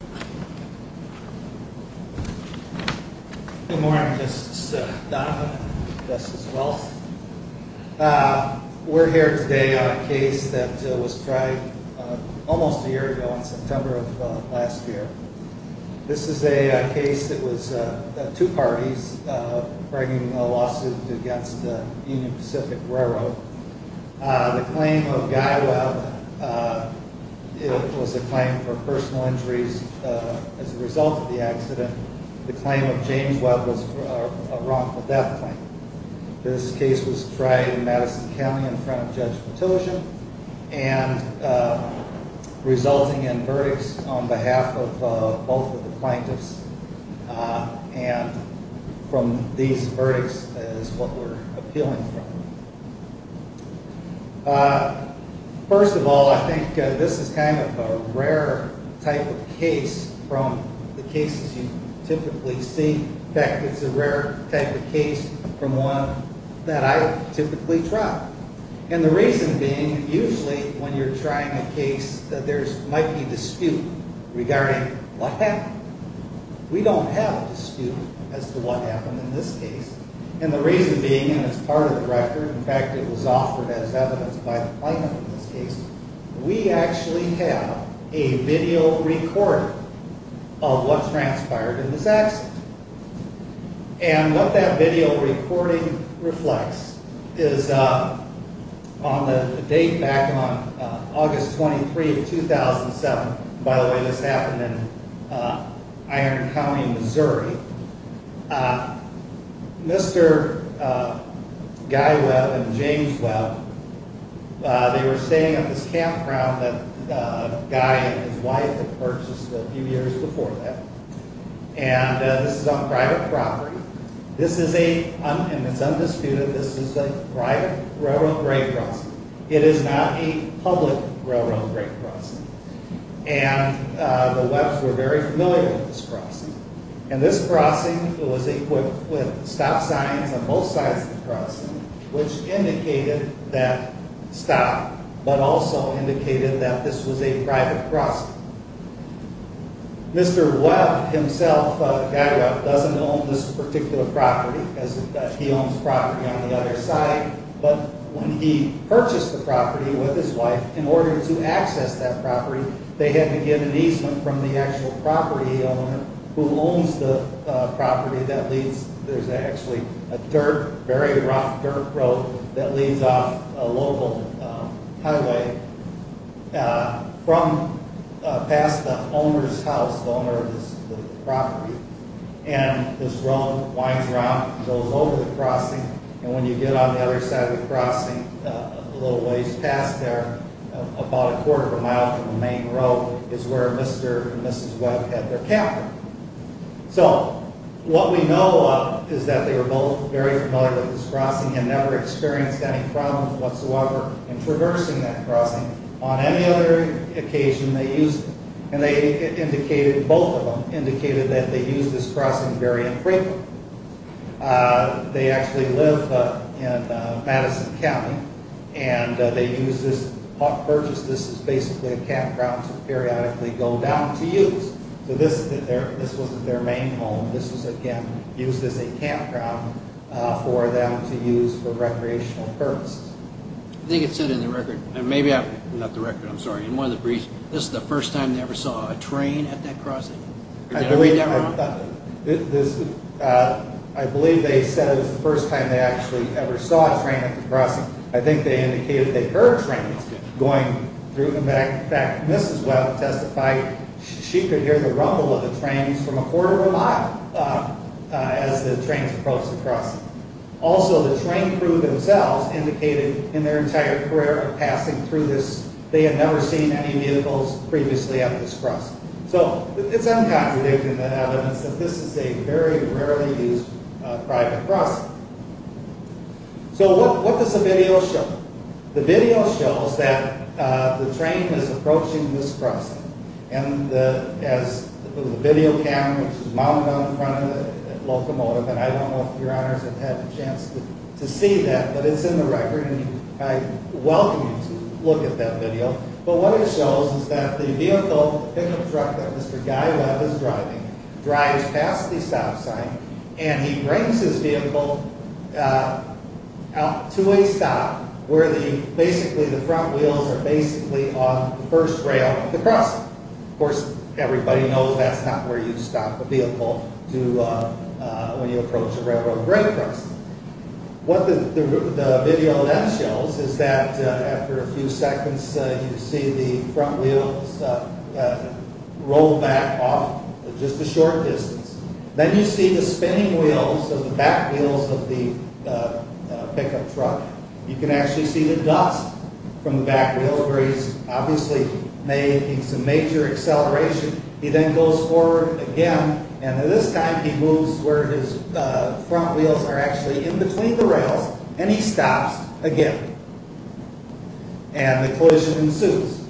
Good morning, this is Donovan, this is Wells. We're here today on a case that was tried almost a year ago in September of last year. This is a case that was two parties bringing a lawsuit against the Union Pacific Railroad. The claim of Guy Webb was a claim for personal injuries as a result of the accident. The claim of James Webb was a wrongful death claim. This case was tried in Madison County in front of Judge Matosian and resulting in verdicts on behalf of both of the plaintiffs. And from these verdicts is what we're appealing from. First of all, I think this is kind of a rare type of case from the cases you typically see. In fact, it's a rare type of case from one that I typically try. And the reason being, usually when you're trying a case that there might be dispute regarding what happened. We don't have a dispute as to what happened in this case. And the reason being, and it's part of the record, in fact it was offered as evidence by the plaintiff in this case, we actually have a video recording of what transpired in this accident. And what that video recording reflects is on the date back on August 23, 2007. By the way, this happened in Iron County, Missouri. Mr. Guy Webb and James Webb, they were staying at this campground that Guy and his wife had purchased a few years before that. And this is on private property. This is a, and it's undisputed, this is a private railroad break crossing. It is not a public railroad break crossing. And the Webb's were very familiar with this crossing. And this crossing was equipped with stop signs on both sides of the crossing, which indicated that stop, but also indicated that this was a private crossing. Mr. Webb himself, Guy Webb, doesn't own this particular property. He owns property on the other side. But when he purchased the property with his wife, in order to access that property, they had to get an easement from the actual property owner who owns the property that leads, there's actually a dirt, very rough dirt road that leads off a local highway. From, past the owner's house, the owner of this property. And this road winds around, goes over the crossing, and when you get on the other side of the crossing, a little ways past there, about a quarter of a mile from the main road, is where Mr. and Mrs. Webb had their campground. So, what we know of is that they were both very familiar with this crossing and never experienced any problems whatsoever in traversing that crossing. On any other occasion, they used it. And they indicated, both of them, indicated that they used this crossing very infrequently. They actually live in Madison County. And they used this, purchased this as basically a campground to periodically go down to use. So this, this wasn't their main home. This was, again, used as a campground for them to use for recreational purposes. I think it said in the record, and maybe, not the record, I'm sorry, in one of the briefs, this is the first time they ever saw a train at that crossing? I believe they said it was the first time they actually ever saw a train at the crossing. I think they indicated they heard trains going through. In fact, Mrs. Webb testified she could hear the rumble of the trains from a quarter of a mile as the trains approached the crossing. Also, the train crew themselves indicated in their entire career of passing through this, they had never seen any vehicles previously at this crossing. So, it's uncontradictory evidence that this is a very rarely used private crossing. So, what does the video show? The video shows that the train is approaching this crossing. And the, as the video camera, which is mounted on the front of the locomotive, and I don't know if your honors have had a chance to see that, but it's in the record, and I welcome you to look at that video. But what it shows is that the vehicle, the pickup truck that Mr. Guy Webb is driving, drives past the stop sign, and he brings his vehicle out to a stop where basically the front wheels are basically on the first rail of the crossing. Of course, everybody knows that's not where you stop a vehicle when you approach a railroad grade crossing. What the video then shows is that after a few seconds, you see the front wheels roll back off just a short distance. Then you see the spinning wheels of the back wheels of the pickup truck. You can actually see the dust from the back wheels where he's obviously making some major acceleration. He then goes forward again, and this time he moves where his front wheels are actually in between the rails, and he stops again. And the collision ensues.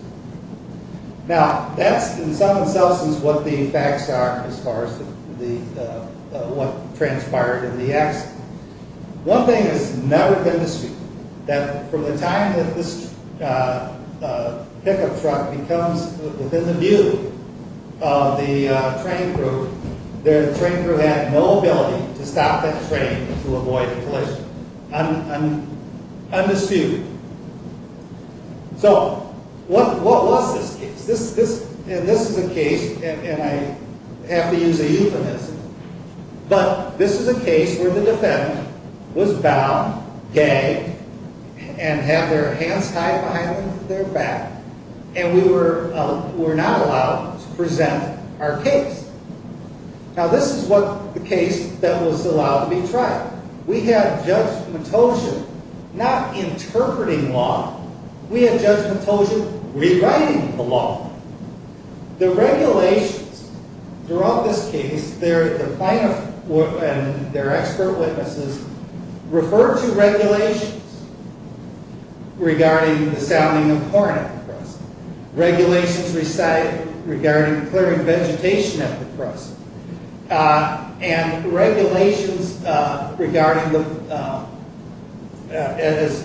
Now, that's in some instances what the facts are as far as what transpired in the accident. One thing that's never been disputed, that from the time that this pickup truck becomes within the view of the train crew, the train crew had no ability to stop that train to avoid a collision. Undisputed. So, what was this case? This is a case, and I have to use a euphemism, but this is a case where the defendant was bound, gagged, and had their hands tied behind their back, and we were not allowed to present our case. Now, this is the case that was allowed to be tried. We had Judge Matosian not interpreting law. We had Judge Matosian rewriting the law. The regulations throughout this case, the plaintiff and their expert witnesses referred to regulations regarding the sounding of horn at the crossing, and regulations regarding,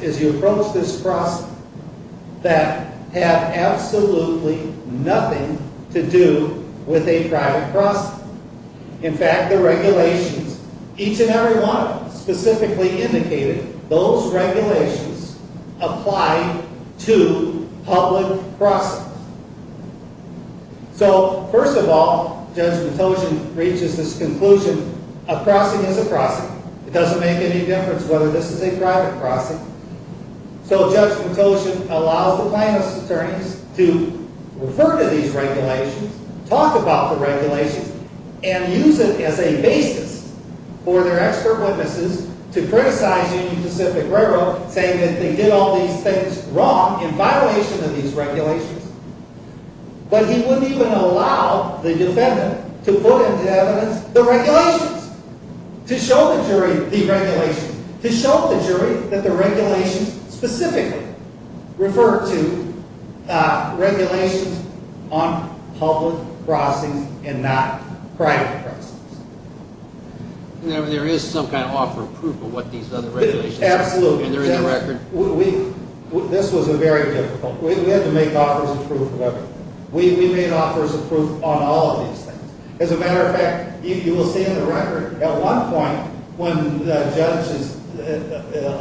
as you approach this crossing, that have absolutely nothing to do with a private crossing. In fact, the regulations, each and every one of them, specifically indicated those regulations apply to public crossings. So, first of all, Judge Matosian reaches this conclusion, a crossing is a crossing. It doesn't make any difference whether this is a private crossing. So, Judge Matosian allows the plaintiff's attorneys to refer to these regulations, talk about the regulations, and use it as a basis for their expert witnesses to criticize Union Pacific Railroad, saying that they did all these things wrong in violation of these regulations. But he wouldn't even allow the defendant to put into evidence the regulations, to show the jury the regulations, to show the jury that the regulations specifically refer to regulations on public crossings and not private crossings. There is some kind of offer of proof of what these other regulations are. Absolutely. And they're in the record. This was very difficult. We had to make offers of proof of everything. We made offers of proof on all of these things. As a matter of fact, you will see in the record, at one point, when the judge is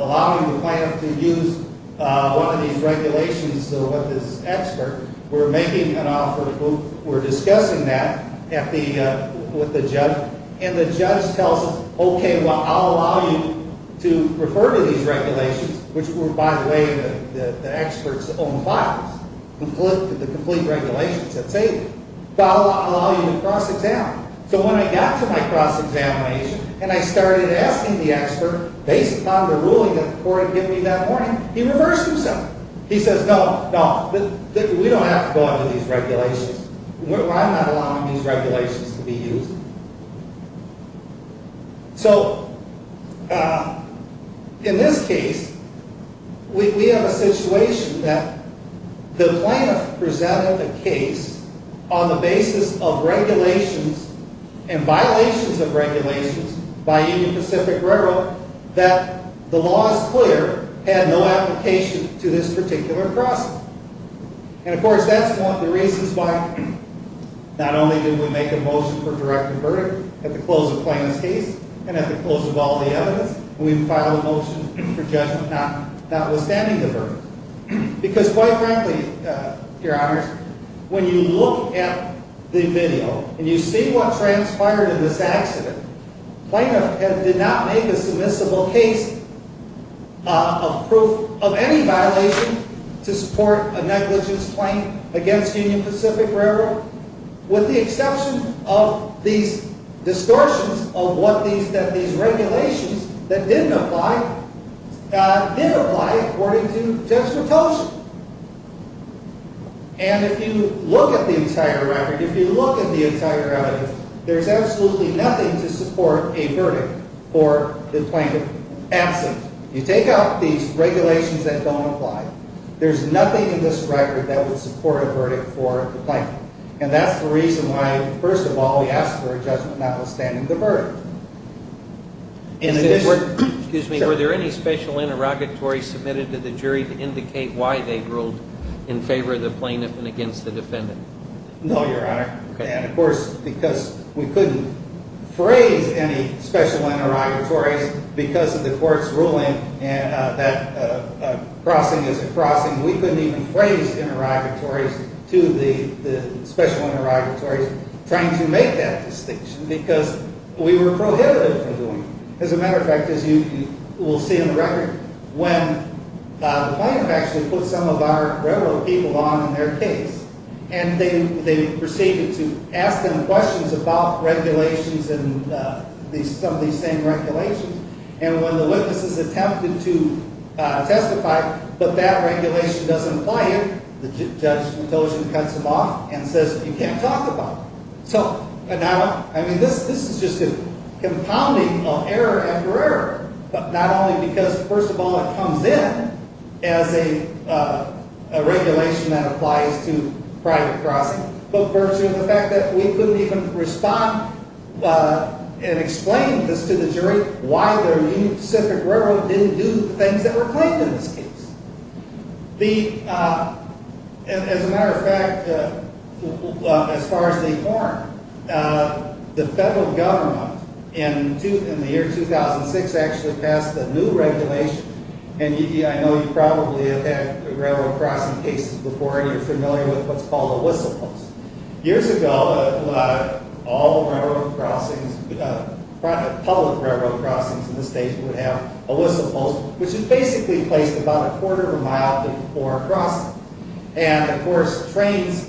allowing the plaintiff to use one of these regulations with his expert, we're making an offer of proof, we're discussing that with the judge, and the judge tells him, okay, well, I'll allow you to refer to these regulations, which were, by the way, the expert's own files, the complete regulations at table, but I'll allow you to cross-examine. So when I got to my cross-examination and I started asking the expert, based upon the ruling that the court had given me that morning, he reversed himself. He says, no, no, we don't have to go under these regulations. I'm not allowing these regulations to be used. So, in this case, we have a situation that the plaintiff presented a case on the basis of regulations and violations of regulations by Union Pacific Railroad that the law is clear had no application to this particular process. And, of course, that's one of the reasons why not only did we make a motion for direct verdict at the close of Plaintiff's case and at the close of all the evidence, we filed a motion for judgment notwithstanding the verdict. Because, quite frankly, Your Honors, when you look at the video and you see what transpired in this accident, Plaintiff did not make a submissible case of proof of any violation to support a negligence claim against Union Pacific Railroad, with the exception of these distortions of what these regulations that didn't apply, didn't apply according to justification. And if you look at the entire record, if you look at the entire evidence, there's absolutely nothing to support a verdict for the plaintiff absent. You take out these regulations that don't apply, there's nothing in this record that will support a verdict for the plaintiff. And that's the reason why, first of all, we ask for a judgment notwithstanding the verdict. Excuse me, were there any special interrogatories submitted to the jury to indicate why they ruled in favor of the plaintiff and against the defendant? No, Your Honor. And, of course, because we couldn't phrase any special interrogatories because of the court's ruling that crossing is a crossing, we couldn't even phrase interrogatories to the special interrogatories trying to make that distinction because we were prohibited from doing it. As a matter of fact, as you will see in the record, when the plaintiff actually put some of our railroad people on in their case and they proceeded to ask them questions about regulations and some of these same regulations, and when the witnesses attempted to testify, but that regulation doesn't apply, the judge cuts them off and says, you can't talk about it. So, I mean, this is just a compounding of error after error, but not only because, first of all, it comes in as a regulation that applies to private crossing, but virtue of the fact that we couldn't even respond and explain this to the jury why their Union Pacific Railroad didn't do the things that were claimed in this case. As a matter of fact, as far as they form, the federal government in the year 2006 actually passed a new regulation, and I know you probably have had railroad crossing cases before and you're familiar with what's called a whistle post. Years ago, all railroad crossings, public railroad crossings in the states would have a whistle post, which is basically placed about a quarter of a mile before a crossing. And, of course, trains,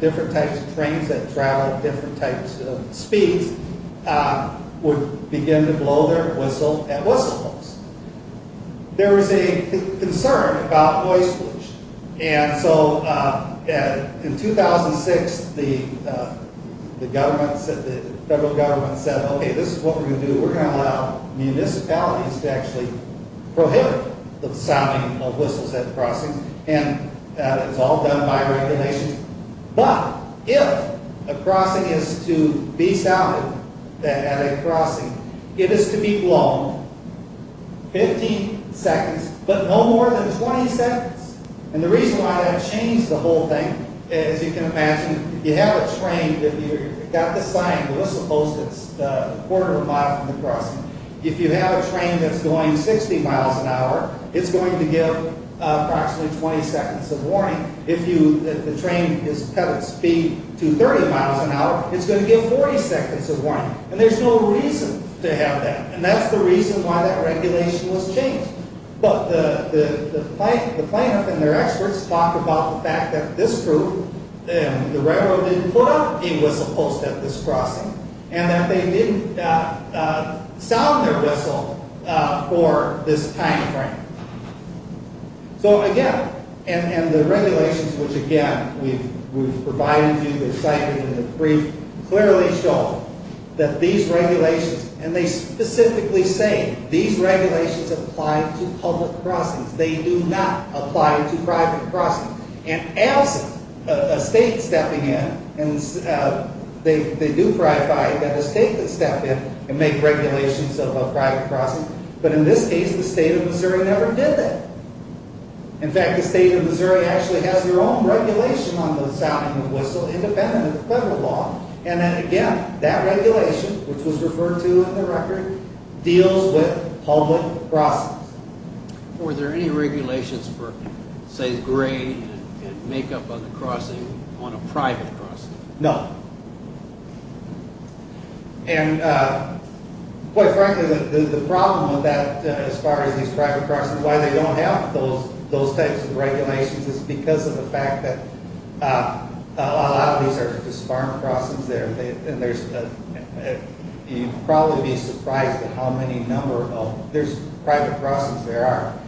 different types of trains that travel at different types of speeds would begin to blow their whistle at whistle posts. There was a concern about noise pollution, and so in 2006 the federal government said, okay, this is what we're going to do. We're going to allow municipalities to actually prohibit the sounding of whistles at crossings, and it's all done by regulation. But if a crossing is to be sounded at a crossing, it is to be blown 15 seconds, but no more than 20 seconds. And the reason why that changed the whole thing, as you can imagine, you have a train that you've got the sign, the whistle post is a quarter of a mile from the crossing. If you have a train that's going 60 miles an hour, it's going to give approximately 20 seconds of warning. If the train has a speed to 30 miles an hour, it's going to give 40 seconds of warning. And there's no reason to have that, and that's the reason why that regulation was changed. But the plaintiff and their experts talk about the fact that this group, the railroad didn't put up a whistle post at this crossing, and that they didn't sound their whistle for this time frame. So again, and the regulations, which again, we've provided you, they're cited in the brief, clearly show that these regulations, and they specifically say these regulations apply to public crossings. They do not apply to private crossings. And as a state stepping in, they do clarify that a state could step in and make regulations of a private crossing, but in this case, the state of Missouri never did that. In fact, the state of Missouri actually has their own regulation on the sounding of whistle, independent of federal law, and then again, that regulation, which was referred to in the record, deals with public crossings. Were there any regulations for, say, grain and makeup on the crossing on a private crossing? No. And quite frankly, the problem with that as far as these private crossings, why they don't have those types of regulations is because of the fact that a lot of these are just farm crossings there, and there's, you'd probably be surprised at how many number of, there's private crossings there are,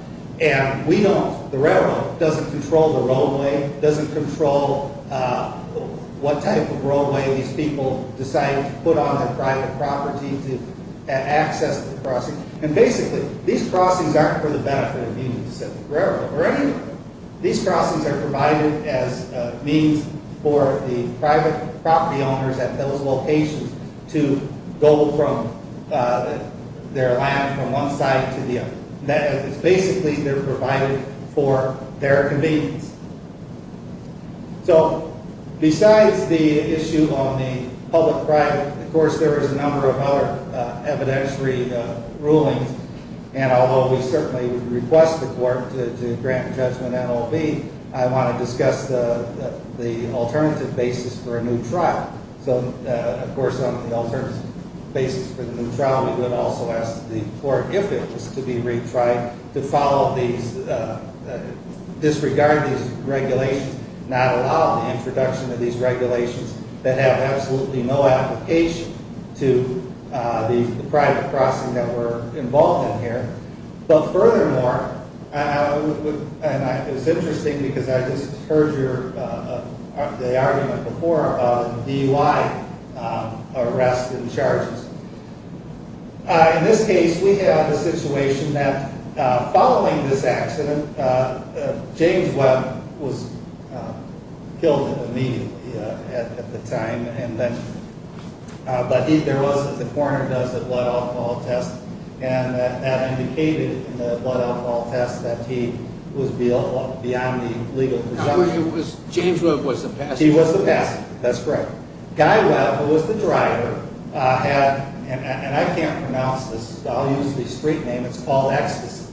and we don't, the railroad doesn't control the roadway, doesn't control what type of roadway these people decide to put on their private property to access the crossing, and basically, these crossings aren't for the benefit of Union Pacific Railroad, these crossings are provided as means for the private property owners at those locations to go from their land from one side to the other. Basically, they're provided for their convenience. So, besides the issue on the public-private, of course, there is a number of other evidentiary rulings, and although we certainly would request the court to grant judgment NOB, I want to discuss the alternative basis for a new trial. So, of course, on the alternative basis for the new trial, we would also ask the court, if it was to be retried, to follow these, disregard these regulations, not allow the introduction of these regulations that have absolutely no application to the private crossing that we're involved in here, but furthermore, and it's interesting because I just heard the argument before about DUI arrests and charges. In this case, we have the situation that following this accident, James Webb was killed immediately at the time, but there was, as the coroner does, a blood alcohol test, and that indicated in the blood alcohol test that he was beyond the legal presumption. James Webb was the passenger. He was the passenger, that's right. Guy Webb, who was the driver, had, and I can't pronounce this, I'll use the street name, it's called ecstasy.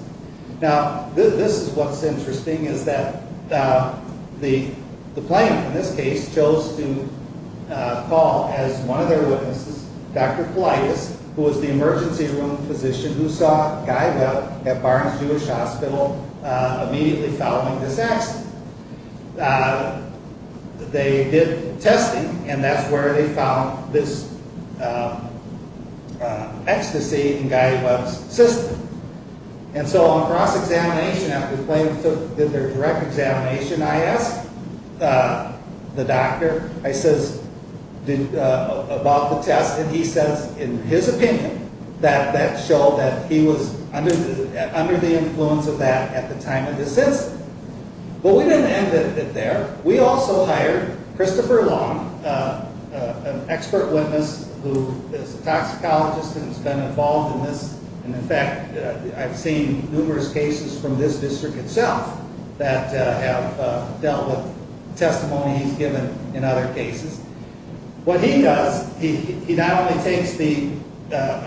Now, this is what's interesting, is that the plaintiff in this case chose to call, as one of their witnesses, Dr. Politis, who was the emergency room physician who saw Guy Webb at Barnes-Jewish Hospital immediately following this accident. They did testing, and that's where they found this ecstasy in Guy Webb's system. And so on cross-examination, after the plaintiff did their direct examination, I asked the doctor, I says, about the test, and he says, in his opinion, that that showed that he was under the influence of that at the time of this incident. But we didn't end it there. We also hired Christopher Long, an expert witness who is a toxicologist and has been involved in this, and, in fact, I've seen numerous cases from this district itself that have dealt with testimonies given in other cases. What he does, he not only takes the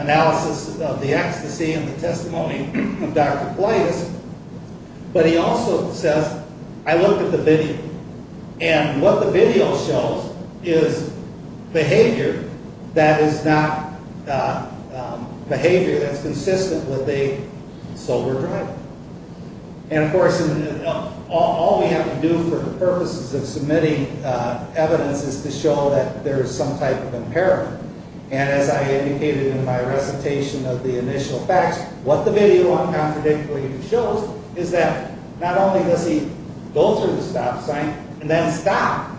analysis of the ecstasy and the testimony of Dr. Politis, but he also says, I looked at the video, and what the video shows is behavior that is not behavior that's consistent with a sober driver. And, of course, all we have to do for the purposes of submitting evidence is to show that there is some type of impairment. And as I indicated in my recitation of the initial facts, what the video uncontradictorily shows is that not only does he go through the stop sign and then stop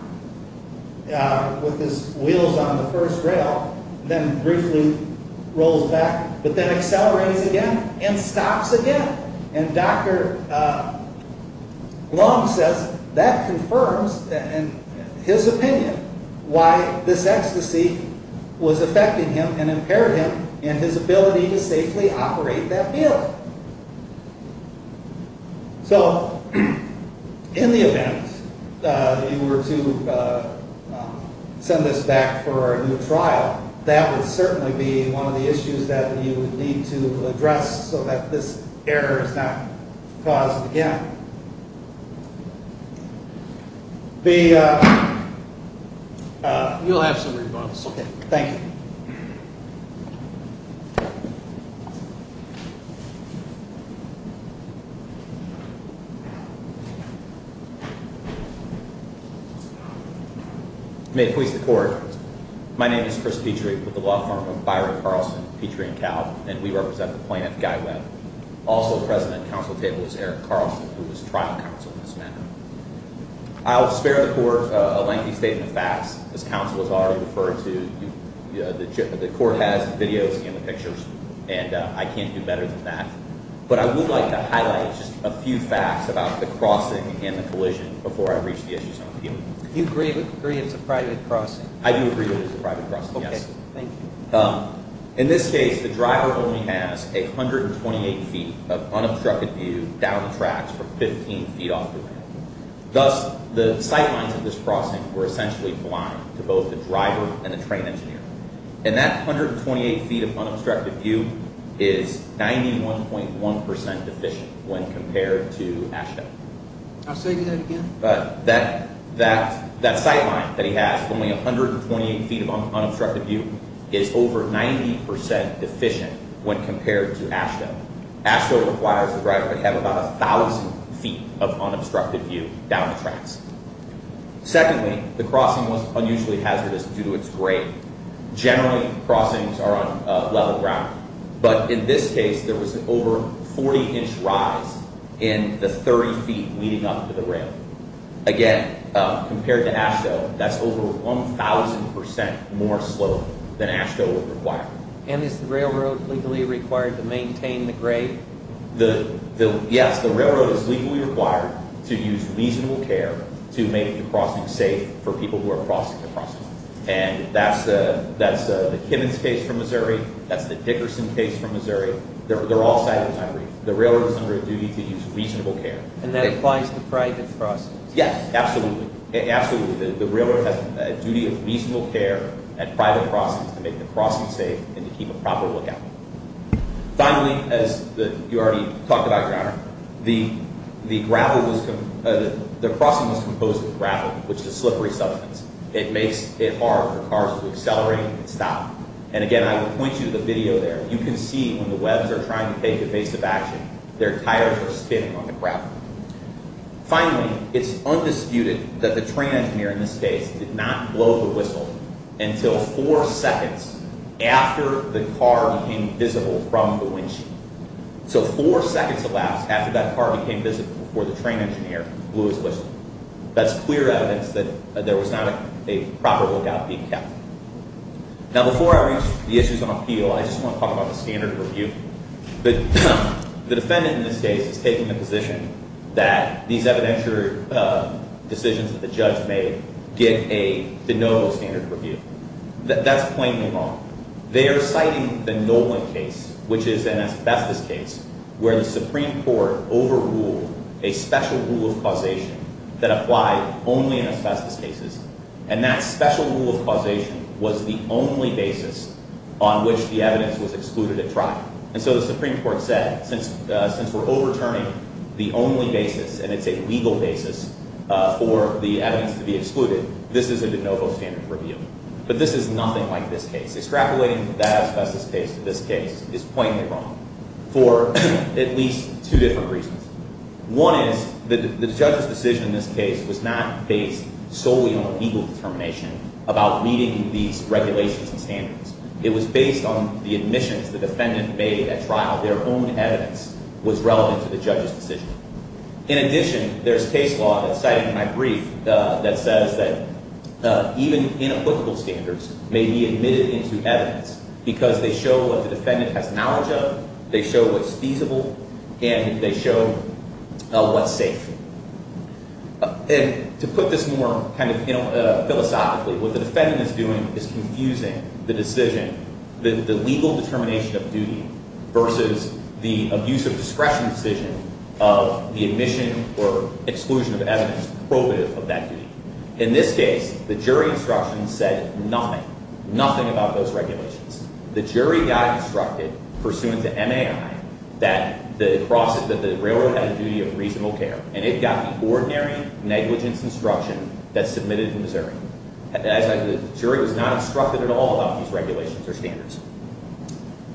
with his wheels on the first rail, then briefly rolls back, but then accelerates again and stops again. And Dr. Long says that confirms, in his opinion, why this ecstasy was affecting him and impaired him in his ability to safely operate that wheel. So, in the event that you were to send this back for a new trial, that would certainly be one of the issues that you would need to address so that this error is not caused again. You'll have some rebuttals. Okay. Thank you. May it please the Court. My name is Chris Petrie with the law firm of Byron Carlson, Petrie & Cowell, and we represent the plaintiff, Guy Webb. Also present at the counsel table is Eric Carlson, who is trial counsel in this matter. I'll spare the Court a lengthy statement of facts. As counsel has already referred to, the Court has the videos and the pictures, and I can't do better than that. But I would like to highlight just a few facts about the crossing and the collision before I reach the issues I want to deal with. Do you agree that it's a private crossing? I do agree that it's a private crossing, yes. Okay. Thank you. In this case, the driver only has 128 feet of unobstructed view down the tracks for 15 feet off the ramp. Thus, the sight lines of this crossing were essentially blind to both the driver and the train engineer. And that 128 feet of unobstructed view is 91.1% deficient when compared to AASHTO. I'll say that again? That sight line that he has, only 128 feet of unobstructed view, is over 90% deficient when compared to AASHTO. AASHTO requires the driver to have about 1,000 feet of unobstructed view down the tracks. Secondly, the crossing was unusually hazardous due to its grade. Generally, crossings are on level ground. But in this case, there was an over 40-inch rise in the 30 feet leading up to the rail. Again, compared to AASHTO, that's over 1,000% more slope than AASHTO would require. And is the railroad legally required to maintain the grade? Yes, the railroad is legally required to use reasonable care to make the crossing safe for people who are crossing the crossing. And that's the Kimmons case from Missouri. That's the Dickerson case from Missouri. They're all cited in my brief. The railroad is under a duty to use reasonable care. And that applies to private crossings? Yes, absolutely. Absolutely. The railroad has a duty of reasonable care at private crossings to make the crossing safe and to keep a proper lookout. Finally, as you already talked about, Your Honor, the crossing was composed of gravel, which is a slippery substance. It makes it hard for cars to accelerate and stop. And again, I would point you to the video there. You can see when the webs are trying to take evasive action, their tires are spinning on the gravel. Finally, it's undisputed that the train engineer in this case did not blow the whistle until four seconds after the car became visible from the windsheet. So four seconds elapsed after that car became visible before the train engineer blew his whistle. That's clear evidence that there was not a proper lookout being kept. Now, before I raise the issues on appeal, I just want to talk about the standard of review. The defendant in this case is taking the position that these evidentiary decisions that the judge made get a de novo standard of review. That's plainly wrong. They are citing the Nolan case, which is an asbestos case, where the Supreme Court overruled a special rule of causation that applied only in asbestos cases, and that special rule of causation was the only basis on which the evidence was excluded at trial. And so the Supreme Court said, since we're overturning the only basis, and it's a legal basis for the evidence to be excluded, this is a de novo standard of review. But this is nothing like this case. Extrapolating that asbestos case to this case is plainly wrong for at least two different reasons. One is the judge's decision in this case was not based solely on a legal determination about meeting these regulations and standards. It was based on the admissions the defendant made at trial. Their own evidence was relevant to the judge's decision. In addition, there's case law that's cited in my brief that says that even inapplicable standards may be admitted into evidence because they show what the defendant has knowledge of, they show what's feasible, and they show what's safe. And to put this more kind of philosophically, what the defendant is doing is confusing the decision, the legal determination of duty versus the abuse of discretion decision of the admission or exclusion of evidence probative of that duty. In this case, the jury instruction said nothing, nothing about those regulations. The jury got instructed pursuant to MAI that the railroad had a duty of reasonable care, and it got the ordinary negligence instruction that's submitted in Missouri. The jury was not instructed at all about these regulations or standards.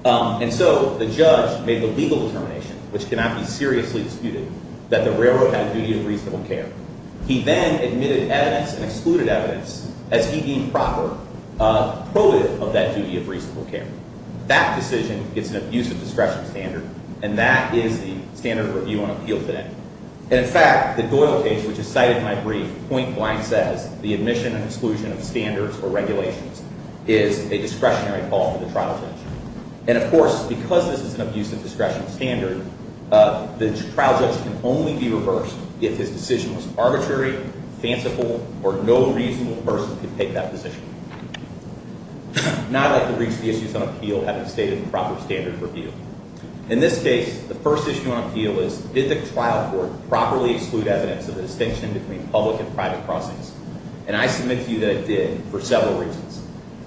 And so the judge made the legal determination, which cannot be seriously disputed, that the railroad had a duty of reasonable care. He then admitted evidence and excluded evidence as he deemed proper probative of that duty of reasonable care. That decision gets an abuse of discretion standard, and that is the standard review on appeal today. And, in fact, the Doyle case, which is cited in my brief, point blank says the admission and exclusion of standards or regulations is a discretionary fall for the trial judge. And, of course, because this is an abuse of discretion standard, the trial judge can only be reversed if his decision was arbitrary, fanciful, or no reasonable person could take that position. Now I'd like to reach the issues on appeal having stated the proper standard review. In this case, the first issue on appeal is did the trial court properly exclude evidence of the distinction between public and private crossings? And I submit to you that it did for several reasons.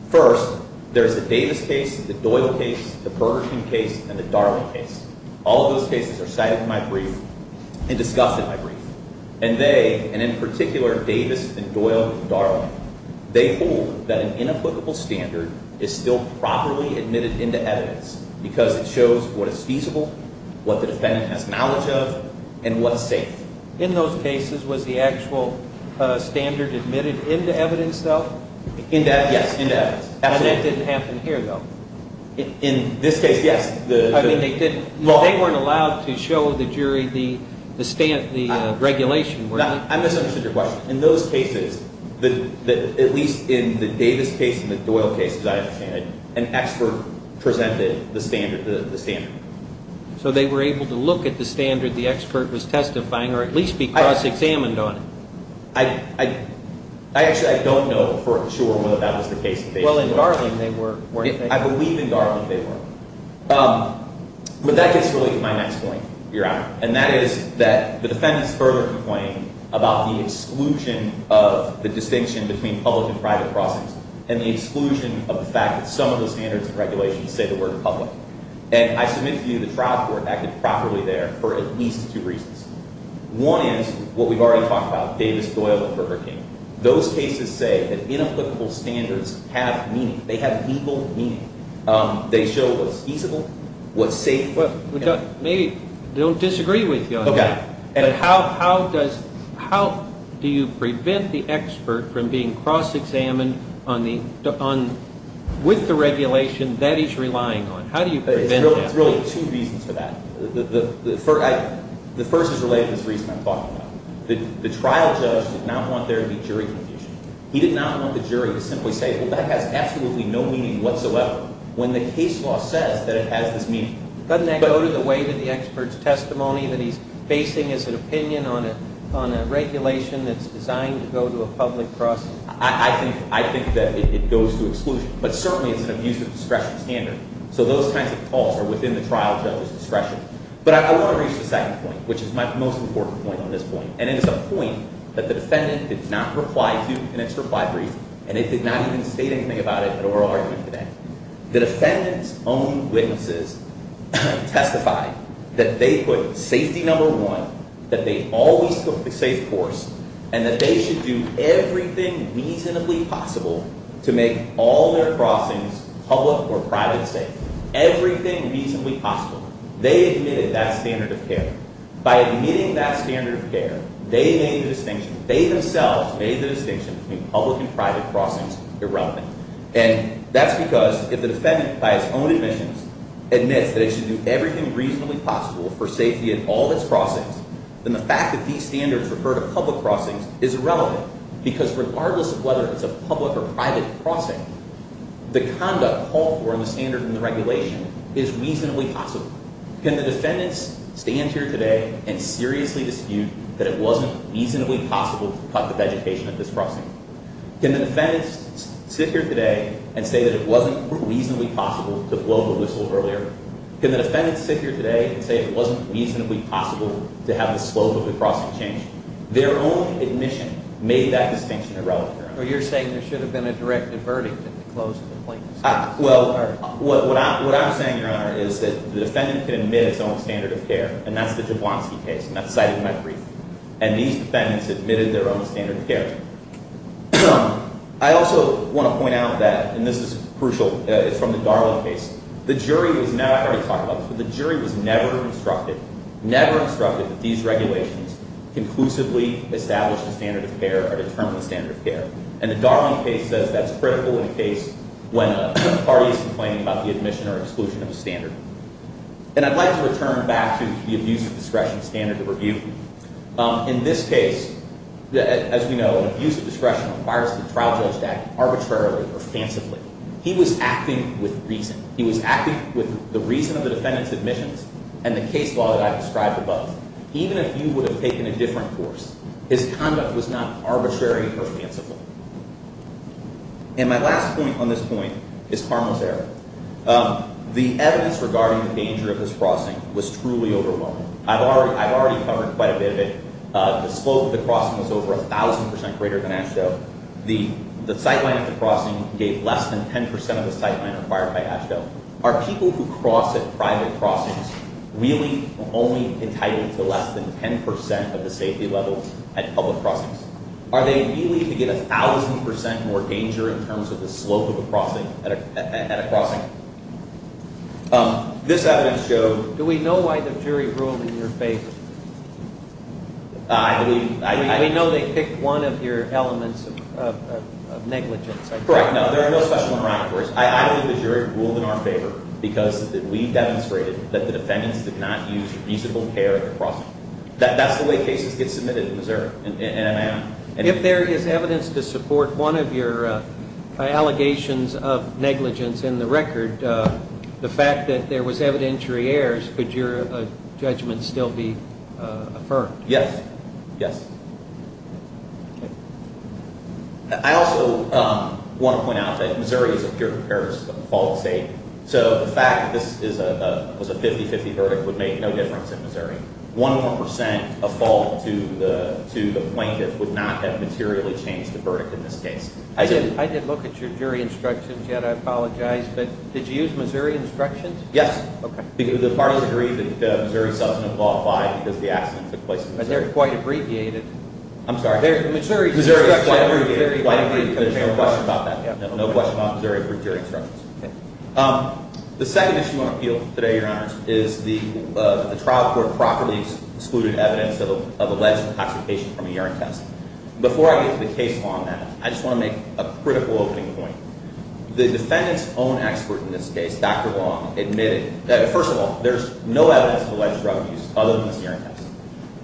First, there's the Davis case, the Doyle case, the Bergerson case, and the Darling case. All of those cases are cited in my brief and discussed in my brief. And they, and in particular Davis and Doyle and Darling, they hold that an inapplicable standard is still properly admitted into evidence because it shows what is feasible, what the defendant has knowledge of, and what's safe. In those cases, was the actual standard admitted into evidence, though? Into evidence, yes, into evidence. And that didn't happen here, though? In this case, yes. I mean, they didn't. They weren't allowed to show the jury the regulation, were they? I misunderstood your question. In those cases, at least in the Davis case and the Doyle case, as I understand it, an expert presented the standard. So they were able to look at the standard the expert was testifying, or at least be cross-examined on it? I actually don't know for sure whether that was the case. Well, in Darling they were, weren't they? I believe in Darling they were. But that gets really to my next point, Your Honor. And that is that the defendant is further complaining about the exclusion of the distinction between public and private process and the exclusion of the fact that some of the standards and regulations say the word public. And I submit to you the trial court acted properly there for at least two reasons. One is what we've already talked about, Davis, Doyle, and Burger King. Those cases say that inapplicable standards have meaning. They have legal meaning. They show what's feasible, what's safe. Maybe they don't disagree with you on that. Okay. But how do you prevent the expert from being cross-examined with the regulation that he's relying on? How do you prevent that? It's really two reasons for that. The first is related to this reason I'm talking about. The trial judge did not want there to be jury confusion. He did not want the jury to simply say, well, that has absolutely no meaning whatsoever. When the case law says that it has this meaning. Doesn't that go to the way to the expert's testimony that he's basing his opinion on a regulation that's designed to go to a public process? I think that it goes to exclusion. But certainly it's an abuse of discretion standard. So those kinds of calls are within the trial judge's discretion. But I want to reach the second point, which is my most important point on this point. And it is a point that the defendant did not reply to in its reply brief. And it did not even state anything about it at oral argument today. The defendant's own witnesses testified that they put safety number one, that they always took the safe course. And that they should do everything reasonably possible to make all their crossings public or private safe. Everything reasonably possible. They admitted that standard of care. By admitting that standard of care, they made the distinction. They themselves made the distinction between public and private crossings irrelevant. And that's because if the defendant, by his own admissions, admits that it should do everything reasonably possible for safety at all its crossings, then the fact that these standards refer to public crossings is irrelevant. Because regardless of whether it's a public or private crossing, the conduct called for in the standard and the regulation is reasonably possible. Can the defendants stand here today and seriously dispute that it wasn't reasonably possible to cut the vegetation at this crossing? Can the defendants sit here today and say that it wasn't reasonably possible to blow the whistle earlier? Can the defendants sit here today and say it wasn't reasonably possible to have the slope of the crossing changed? Their own admission made that distinction irrelevant, Your Honor. But you're saying there should have been a direct verdict at the close of the plaintiff's case? Well, what I'm saying, Your Honor, is that the defendant can admit its own standard of care, and that's the Jablonski case, and that's cited in my brief. And these defendants admitted their own standard of care. I also want to point out that, and this is crucial, it's from the Darling case. The jury was never instructed, never instructed that these regulations conclusively establish the standard of care or determine the standard of care. And the Darling case says that's critical in a case when a party is complaining about the admission or exclusion of a standard. And I'd like to return back to the abuse of discretion standard of review. In this case, as we know, abuse of discretion requires the trial judge to act arbitrarily or fancifully. He was acting with reason. He was acting with the reason of the defendant's admissions and the case law that I've described above. Even if you would have taken a different course, his conduct was not arbitrary or fanciful. And my last point on this point is harmless error. The evidence regarding the danger of this crossing was truly overwhelming. I've already covered quite a bit of it. The slope of the crossing was over 1,000 percent greater than AASHTO. The sightline of the crossing gave less than 10 percent of the sightline required by AASHTO. Are people who cross at private crossings really only entitled to less than 10 percent of the safety level at public crossings? Are they really to get 1,000 percent more danger in terms of the slope of the crossing at a crossing? This evidence showed— Do we know why the jury ruled in your favor? I believe— We know they picked one of your elements of negligence. Correct. No, there are no special parameters. I believe the jury ruled in our favor because we demonstrated that the defendants did not use reasonable care at the crossing. That's the way cases get submitted in Missouri, and I am— If there is evidence to support one of your allegations of negligence in the record, the fact that there was evidentiary errors, could your judgment still be affirmed? Yes. Yes. I also want to point out that Missouri is a peer-to-peer fault state, so the fact that this was a 50-50 verdict would make no difference in Missouri. One more percent of fault to the plaintiff would not have materially changed the verdict in this case. I did look at your jury instructions yet. I apologize, but did you use Missouri instructions? Yes. The parties agreed that Missouri's substantive law applied because the accident took place in Missouri. But they're quite abbreviated. I'm sorry? Missouri's instructions are very abbreviated. There's no question about that. No question about Missouri jury instructions. The second issue on appeal today, Your Honors, is the trial court properly excluded evidence of alleged intoxication from a urine test. Before I get to the case on that, I just want to make a critical opening point. The defendant's own expert in this case, Dr. Long, admitted that, first of all, there's no evidence of alleged drug use other than the urine test.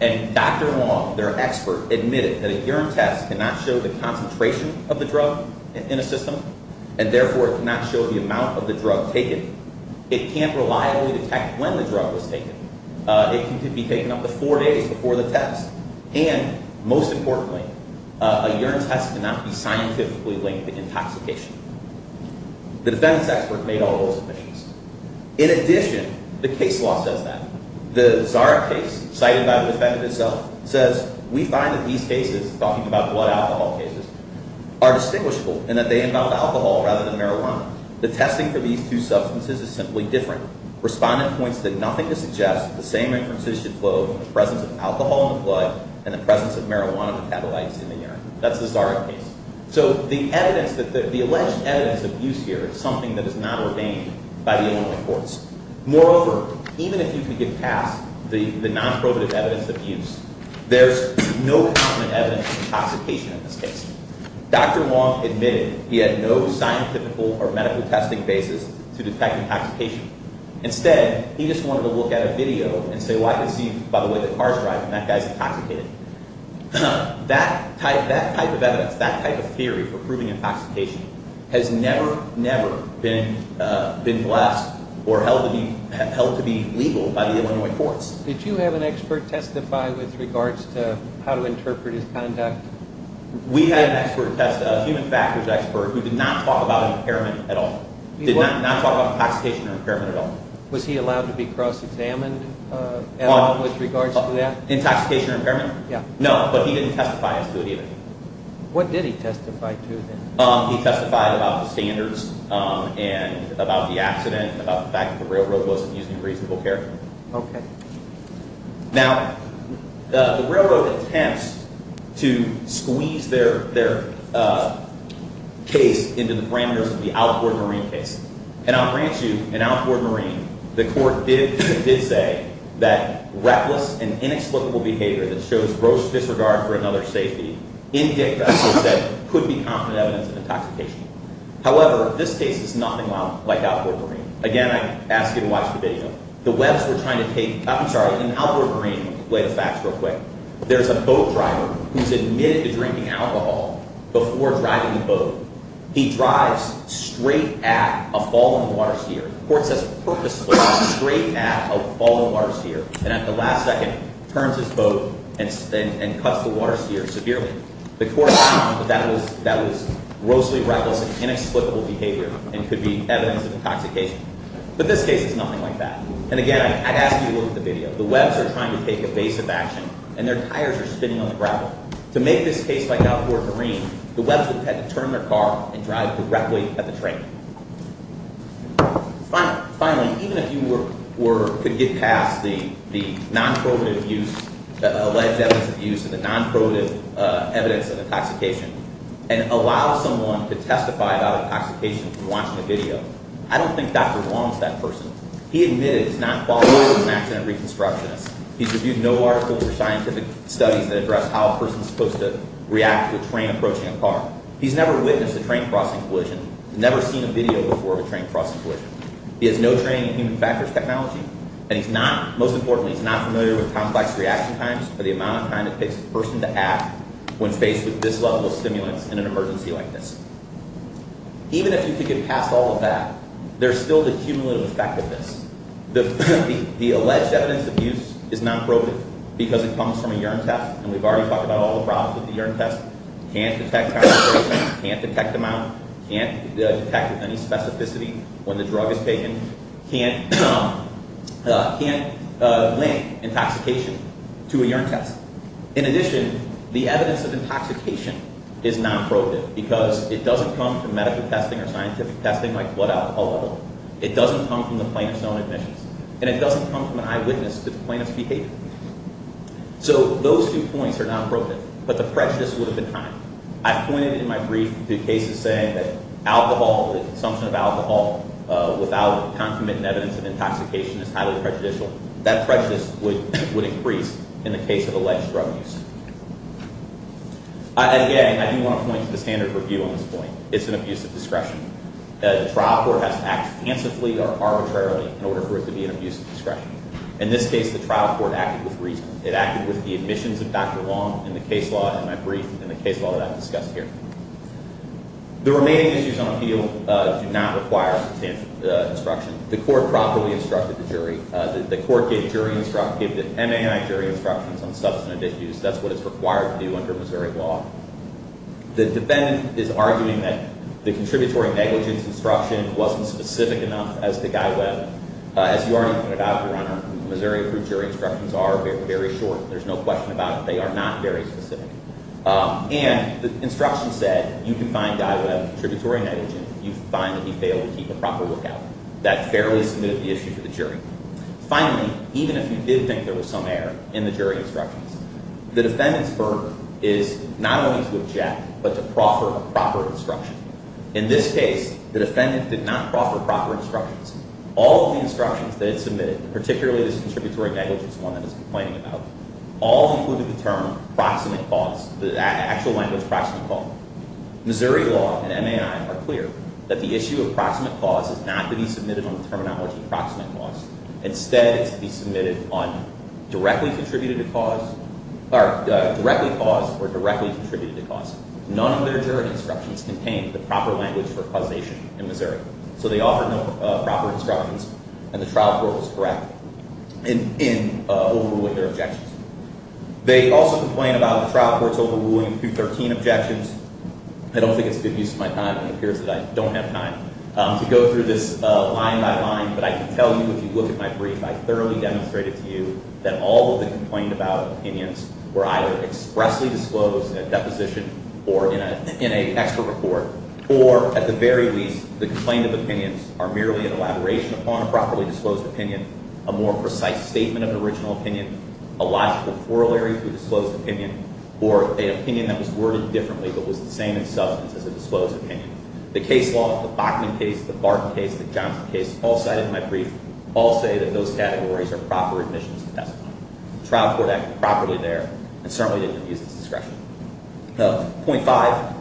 And Dr. Long, their expert, admitted that a urine test cannot show the concentration of the drug in a system, and therefore it cannot show the amount of the drug taken. It can't reliably detect when the drug was taken. It can be taken up to four days before the test. And, most importantly, a urine test cannot be scientifically linked to intoxication. The defendant's expert made all those admissions. In addition, the case law says that. The Zarak case, cited by the defendant himself, says, We find that these cases, talking about blood alcohol cases, are distinguishable in that they involve alcohol rather than marijuana. The testing for these two substances is simply different. Respondent points that nothing to suggest that the same inferences should flow in the presence of alcohol in the blood and the presence of marijuana metabolites in the urine. That's the Zarak case. So the evidence, the alleged evidence of use here is something that is not ordained by the inmate courts. Moreover, even if you can get past the non-probative evidence of use, there's no common evidence of intoxication in this case. Dr. Long admitted he had no scientific or medical testing basis to detect intoxication. Instead, he just wanted to look at a video and say, Well, I can see by the way the car's driving, that guy's intoxicated. That type of evidence, that type of theory for proving intoxication has never, never been blessed or held to be legal by the Illinois courts. Did you have an expert testify with regards to how to interpret his conduct? We had an expert, a human factors expert, who did not talk about impairment at all. Did not talk about intoxication or impairment at all. Was he allowed to be cross-examined with regards to that? Intoxication or impairment? Yeah. No, but he didn't testify as to it either. What did he testify to then? He testified about the standards and about the accident, about the fact that the railroad wasn't using reasonable care. Okay. Now, the railroad attempts to squeeze their case into the parameters of the Alcord Marine case. And I'll grant you, in Alcord Marine, the court did say that reckless and inexplicable behavior that shows gross disregard for another's safety, in Dick Russell's case, could be confident evidence of intoxication. However, this case is nothing like Alcord Marine. Again, I ask you to watch the video. The webs were trying to take, I'm sorry, in Alcord Marine, let me lay the facts real quick. There's a boat driver who's admitted to drinking alcohol before driving the boat. He drives straight at a fallen water steer. The court says purposely straight at a fallen water steer. And at the last second, turns his boat and cuts the water steer severely. The court found that that was grossly reckless and inexplicable behavior and could be evidence of intoxication. But this case is nothing like that. And again, I'd ask you to look at the video. The webs are trying to take evasive action, and their tires are spinning on the gravel. To make this case like Alcord Marine, the webs would have had to turn their car and drive directly at the train. Finally, even if you could get past the non-provative use, alleged evidence of abuse, and the non-provative evidence of intoxication, and allow someone to testify about intoxication from watching the video, I don't think Dr. Wong is that person. He admitted he's not qualified as an accident reconstructionist. He's reviewed no articles or scientific studies that address how a person is supposed to react to a train approaching a car. He's never witnessed a train crossing collision. He's never seen a video before of a train crossing collision. He has no training in human factors technology. And he's not, most importantly, he's not familiar with complex reaction times or the amount of time it takes a person to act when faced with this level of stimulants in an emergency like this. Even if you could get past all of that, there's still the cumulative effect of this. The alleged evidence of abuse is non-provative because it comes from a urine test. And we've already talked about all the problems with the urine test. Can't detect concentration. Can't detect amount. Can't detect any specificity when the drug is taken. Can't link intoxication to a urine test. In addition, the evidence of intoxication is non-provative because it doesn't come from medical testing or scientific testing like blood alcohol level. It doesn't come from the plaintiff's own admissions. And it doesn't come from an eyewitness to the plaintiff's behavior. So those two points are non-provative. But the prejudice would have been higher. I've pointed in my brief to cases saying that alcohol, the consumption of alcohol, without concomitant evidence of intoxication is highly prejudicial. That prejudice would increase in the case of alleged drug use. Again, I do want to point to the standard review on this point. It's an abuse of discretion. The trial court has to act fancifully or arbitrarily in order for it to be an abuse of discretion. In this case, the trial court acted with reason. It acted with the admissions of Dr. Long in the case law in my brief and the case law that I've discussed here. The remaining issues on appeal do not require substantial instruction. The court properly instructed the jury. The court gave jury instructions, gave the MAI jury instructions on substantive issues. That's what it's required to do under Missouri law. The defendant is arguing that the contributory negligence instruction wasn't specific enough as to Guy Webb. As you already pointed out, Your Honor, Missouri-approved jury instructions are very short. There's no question about it. They are not very specific. And the instruction said you can find Guy Webb, contributory negligence, if you find that he failed to keep a proper lookout. That fairly smoothed the issue for the jury. Finally, even if you did think there was some error in the jury instructions, the defendant's firm is not only to object but to proffer a proper instruction. In this case, the defendant did not proffer proper instructions. All of the instructions that it submitted, particularly this contributory negligence one that it's complaining about, all included the term proximate cause, the actual language, proximate cause. Missouri law and MAI are clear that the issue of proximate cause is not to be submitted on the terminology of proximate cause. Instead, it's to be submitted on directly contributed to cause, or directly caused or directly contributed to cause. None of their jury instructions contained the proper language for causation in Missouri. So they offered no proper instructions, and the trial court was correct in overruling their objections. They also complain about the trial court's overruling through 13 objections. I don't think it's a good use of my time. It appears that I don't have time to go through this line by line. But I can tell you if you look at my brief, I thoroughly demonstrated to you that all of the complained about opinions were either expressly disclosed in a deposition or in an expert report. Or at the very least, the complained of opinions are merely an elaboration upon a properly disclosed opinion, a more precise statement of an original opinion, a logical corollary to a disclosed opinion, or an opinion that was worded differently but was the same in substance as a disclosed opinion. The case law, the Bachman case, the Barton case, the Johnson case, all cited in my brief, all say that those categories are proper admissions to testimony. The trial court acted properly there and certainly didn't abuse its discretion. Point five,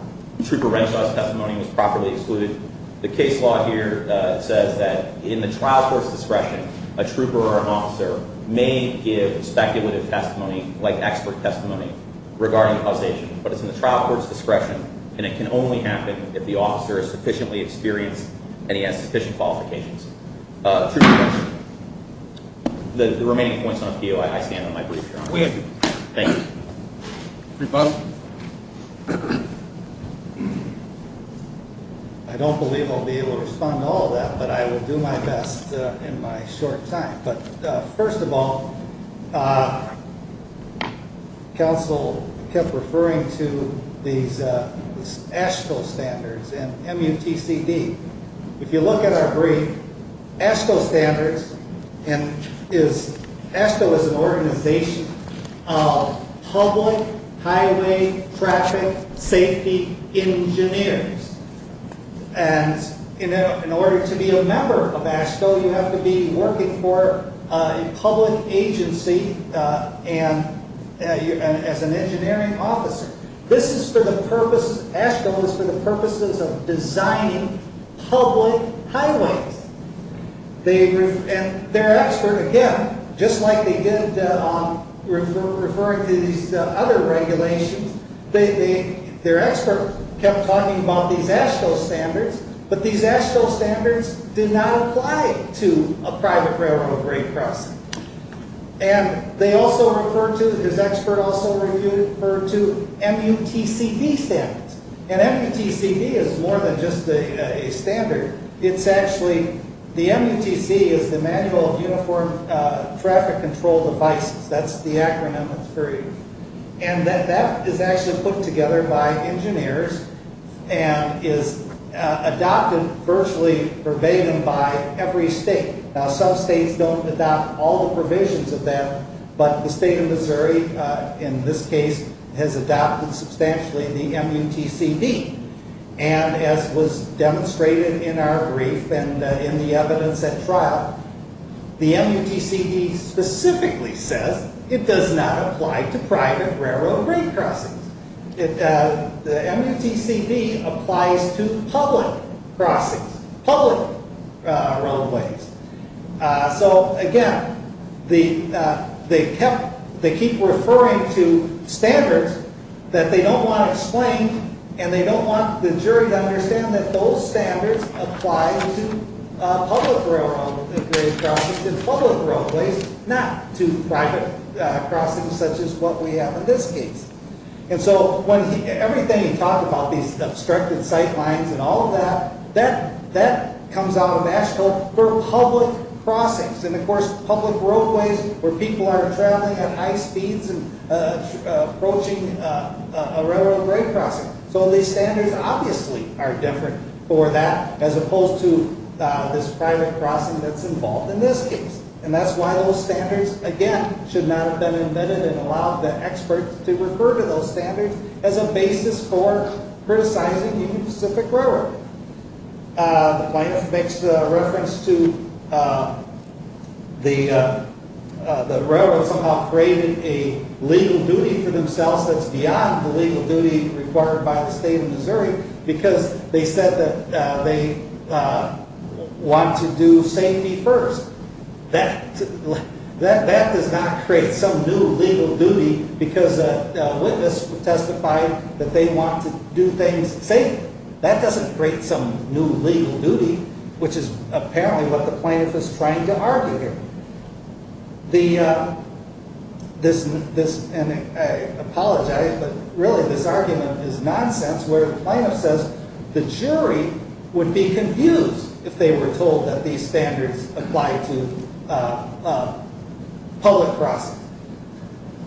Trooper Renshaw's testimony was properly excluded. The case law here says that in the trial court's discretion, a trooper or an officer may give speculative testimony, like expert testimony, regarding causation. But it's in the trial court's discretion, and it can only happen if the officer is sufficiently experienced and he has sufficient qualifications. Trooper Renshaw. The remaining points on POI, I stand on my brief, Your Honor. We have two. Thank you. Rebuttal. I don't believe I'll be able to respond to all of that, but I will do my best in my short time. First of all, counsel kept referring to these AASHTO standards and MUTCD. If you look at our brief, AASHTO standards, and AASHTO is an organization of public highway traffic safety engineers. In order to be a member of AASHTO, you have to be working for a public agency as an engineering officer. AASHTO is for the purposes of designing public highways. And their expert, again, just like they did on referring to these other regulations, their expert kept talking about these AASHTO standards, but these AASHTO standards did not apply to a private railroad rate crossing. And they also referred to, his expert also referred to MUTCD standards. And MUTCD is more than just a standard. It's actually, the MUTCD is the Manual of Uniform Traffic Control Devices. That's the acronym of the three. And that is actually put together by engineers and is adopted virtually verbatim by every state. Now some states don't adopt all the provisions of that, but the state of Missouri, in this case, has adopted substantially the MUTCD. And as was demonstrated in our brief and in the evidence at trial, the MUTCD specifically says it does not apply to private railroad rate crossings. The MUTCD applies to public crossings, public roadways. So again, they kept, they keep referring to standards that they don't want explained, and they don't want the jury to understand that those standards apply to public railroad rate crossings and public roadways, not to private crossings such as what we have in this case. And so everything he talked about, these obstructed sight lines and all of that, that comes out of Nashville for public crossings. And of course, public roadways where people are traveling at high speeds and approaching a railroad rate crossing. So these standards obviously are different for that as opposed to this private crossing that's involved in this case. And that's why those standards, again, should not have been invented and allowed the experts to refer to those standards as a basis for criticizing the Union Pacific Railroad. The plaintiff makes the reference to the railroad somehow creating a legal duty for themselves that's beyond the legal duty required by the state of Missouri because they said that they want to do safety first. That does not create some new legal duty because a witness testified that they want to do things safely. That doesn't create some new legal duty, which is apparently what the plaintiff is trying to argue here. And I apologize, but really this argument is nonsense where the plaintiff says the jury would be confused if they were told that these standards apply to public crossings.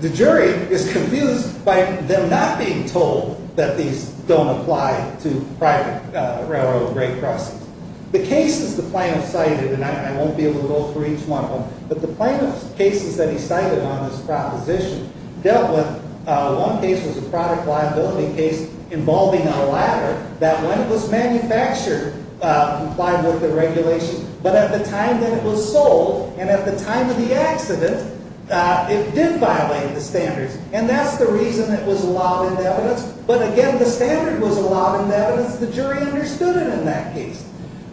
The jury is confused by them not being told that these don't apply to private railroad rate crossings. The cases the plaintiff cited, and I won't be able to go through each one of them, but the plaintiff's cases that he cited on this proposition dealt with, one case was a product liability case involving a ladder that when it was manufactured, complied with the regulations. But at the time that it was sold and at the time of the accident, it did violate the standards. And that's the reason it was allowed into evidence, but again the standard was allowed into evidence. The jury understood it in that case.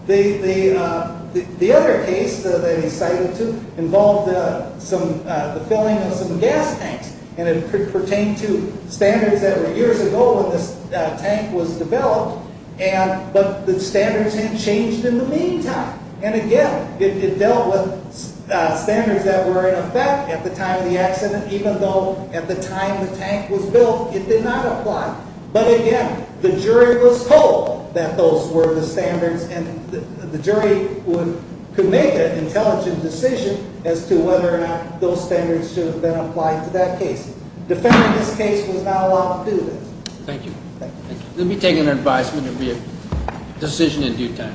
The other case that he cited involved the filling of some gas tanks. And it pertained to standards that were years ago when this tank was developed, but the standards had changed in the meantime. And again, it dealt with standards that were in effect at the time of the accident, even though at the time the tank was built, it did not apply. But again, the jury was told that those were the standards and the jury could make an intelligent decision as to whether or not those standards should have been applied to that case. Defending this case was not allowed to do this. Thank you. Thank you. Let me take an advisement. It would be a decision in due time.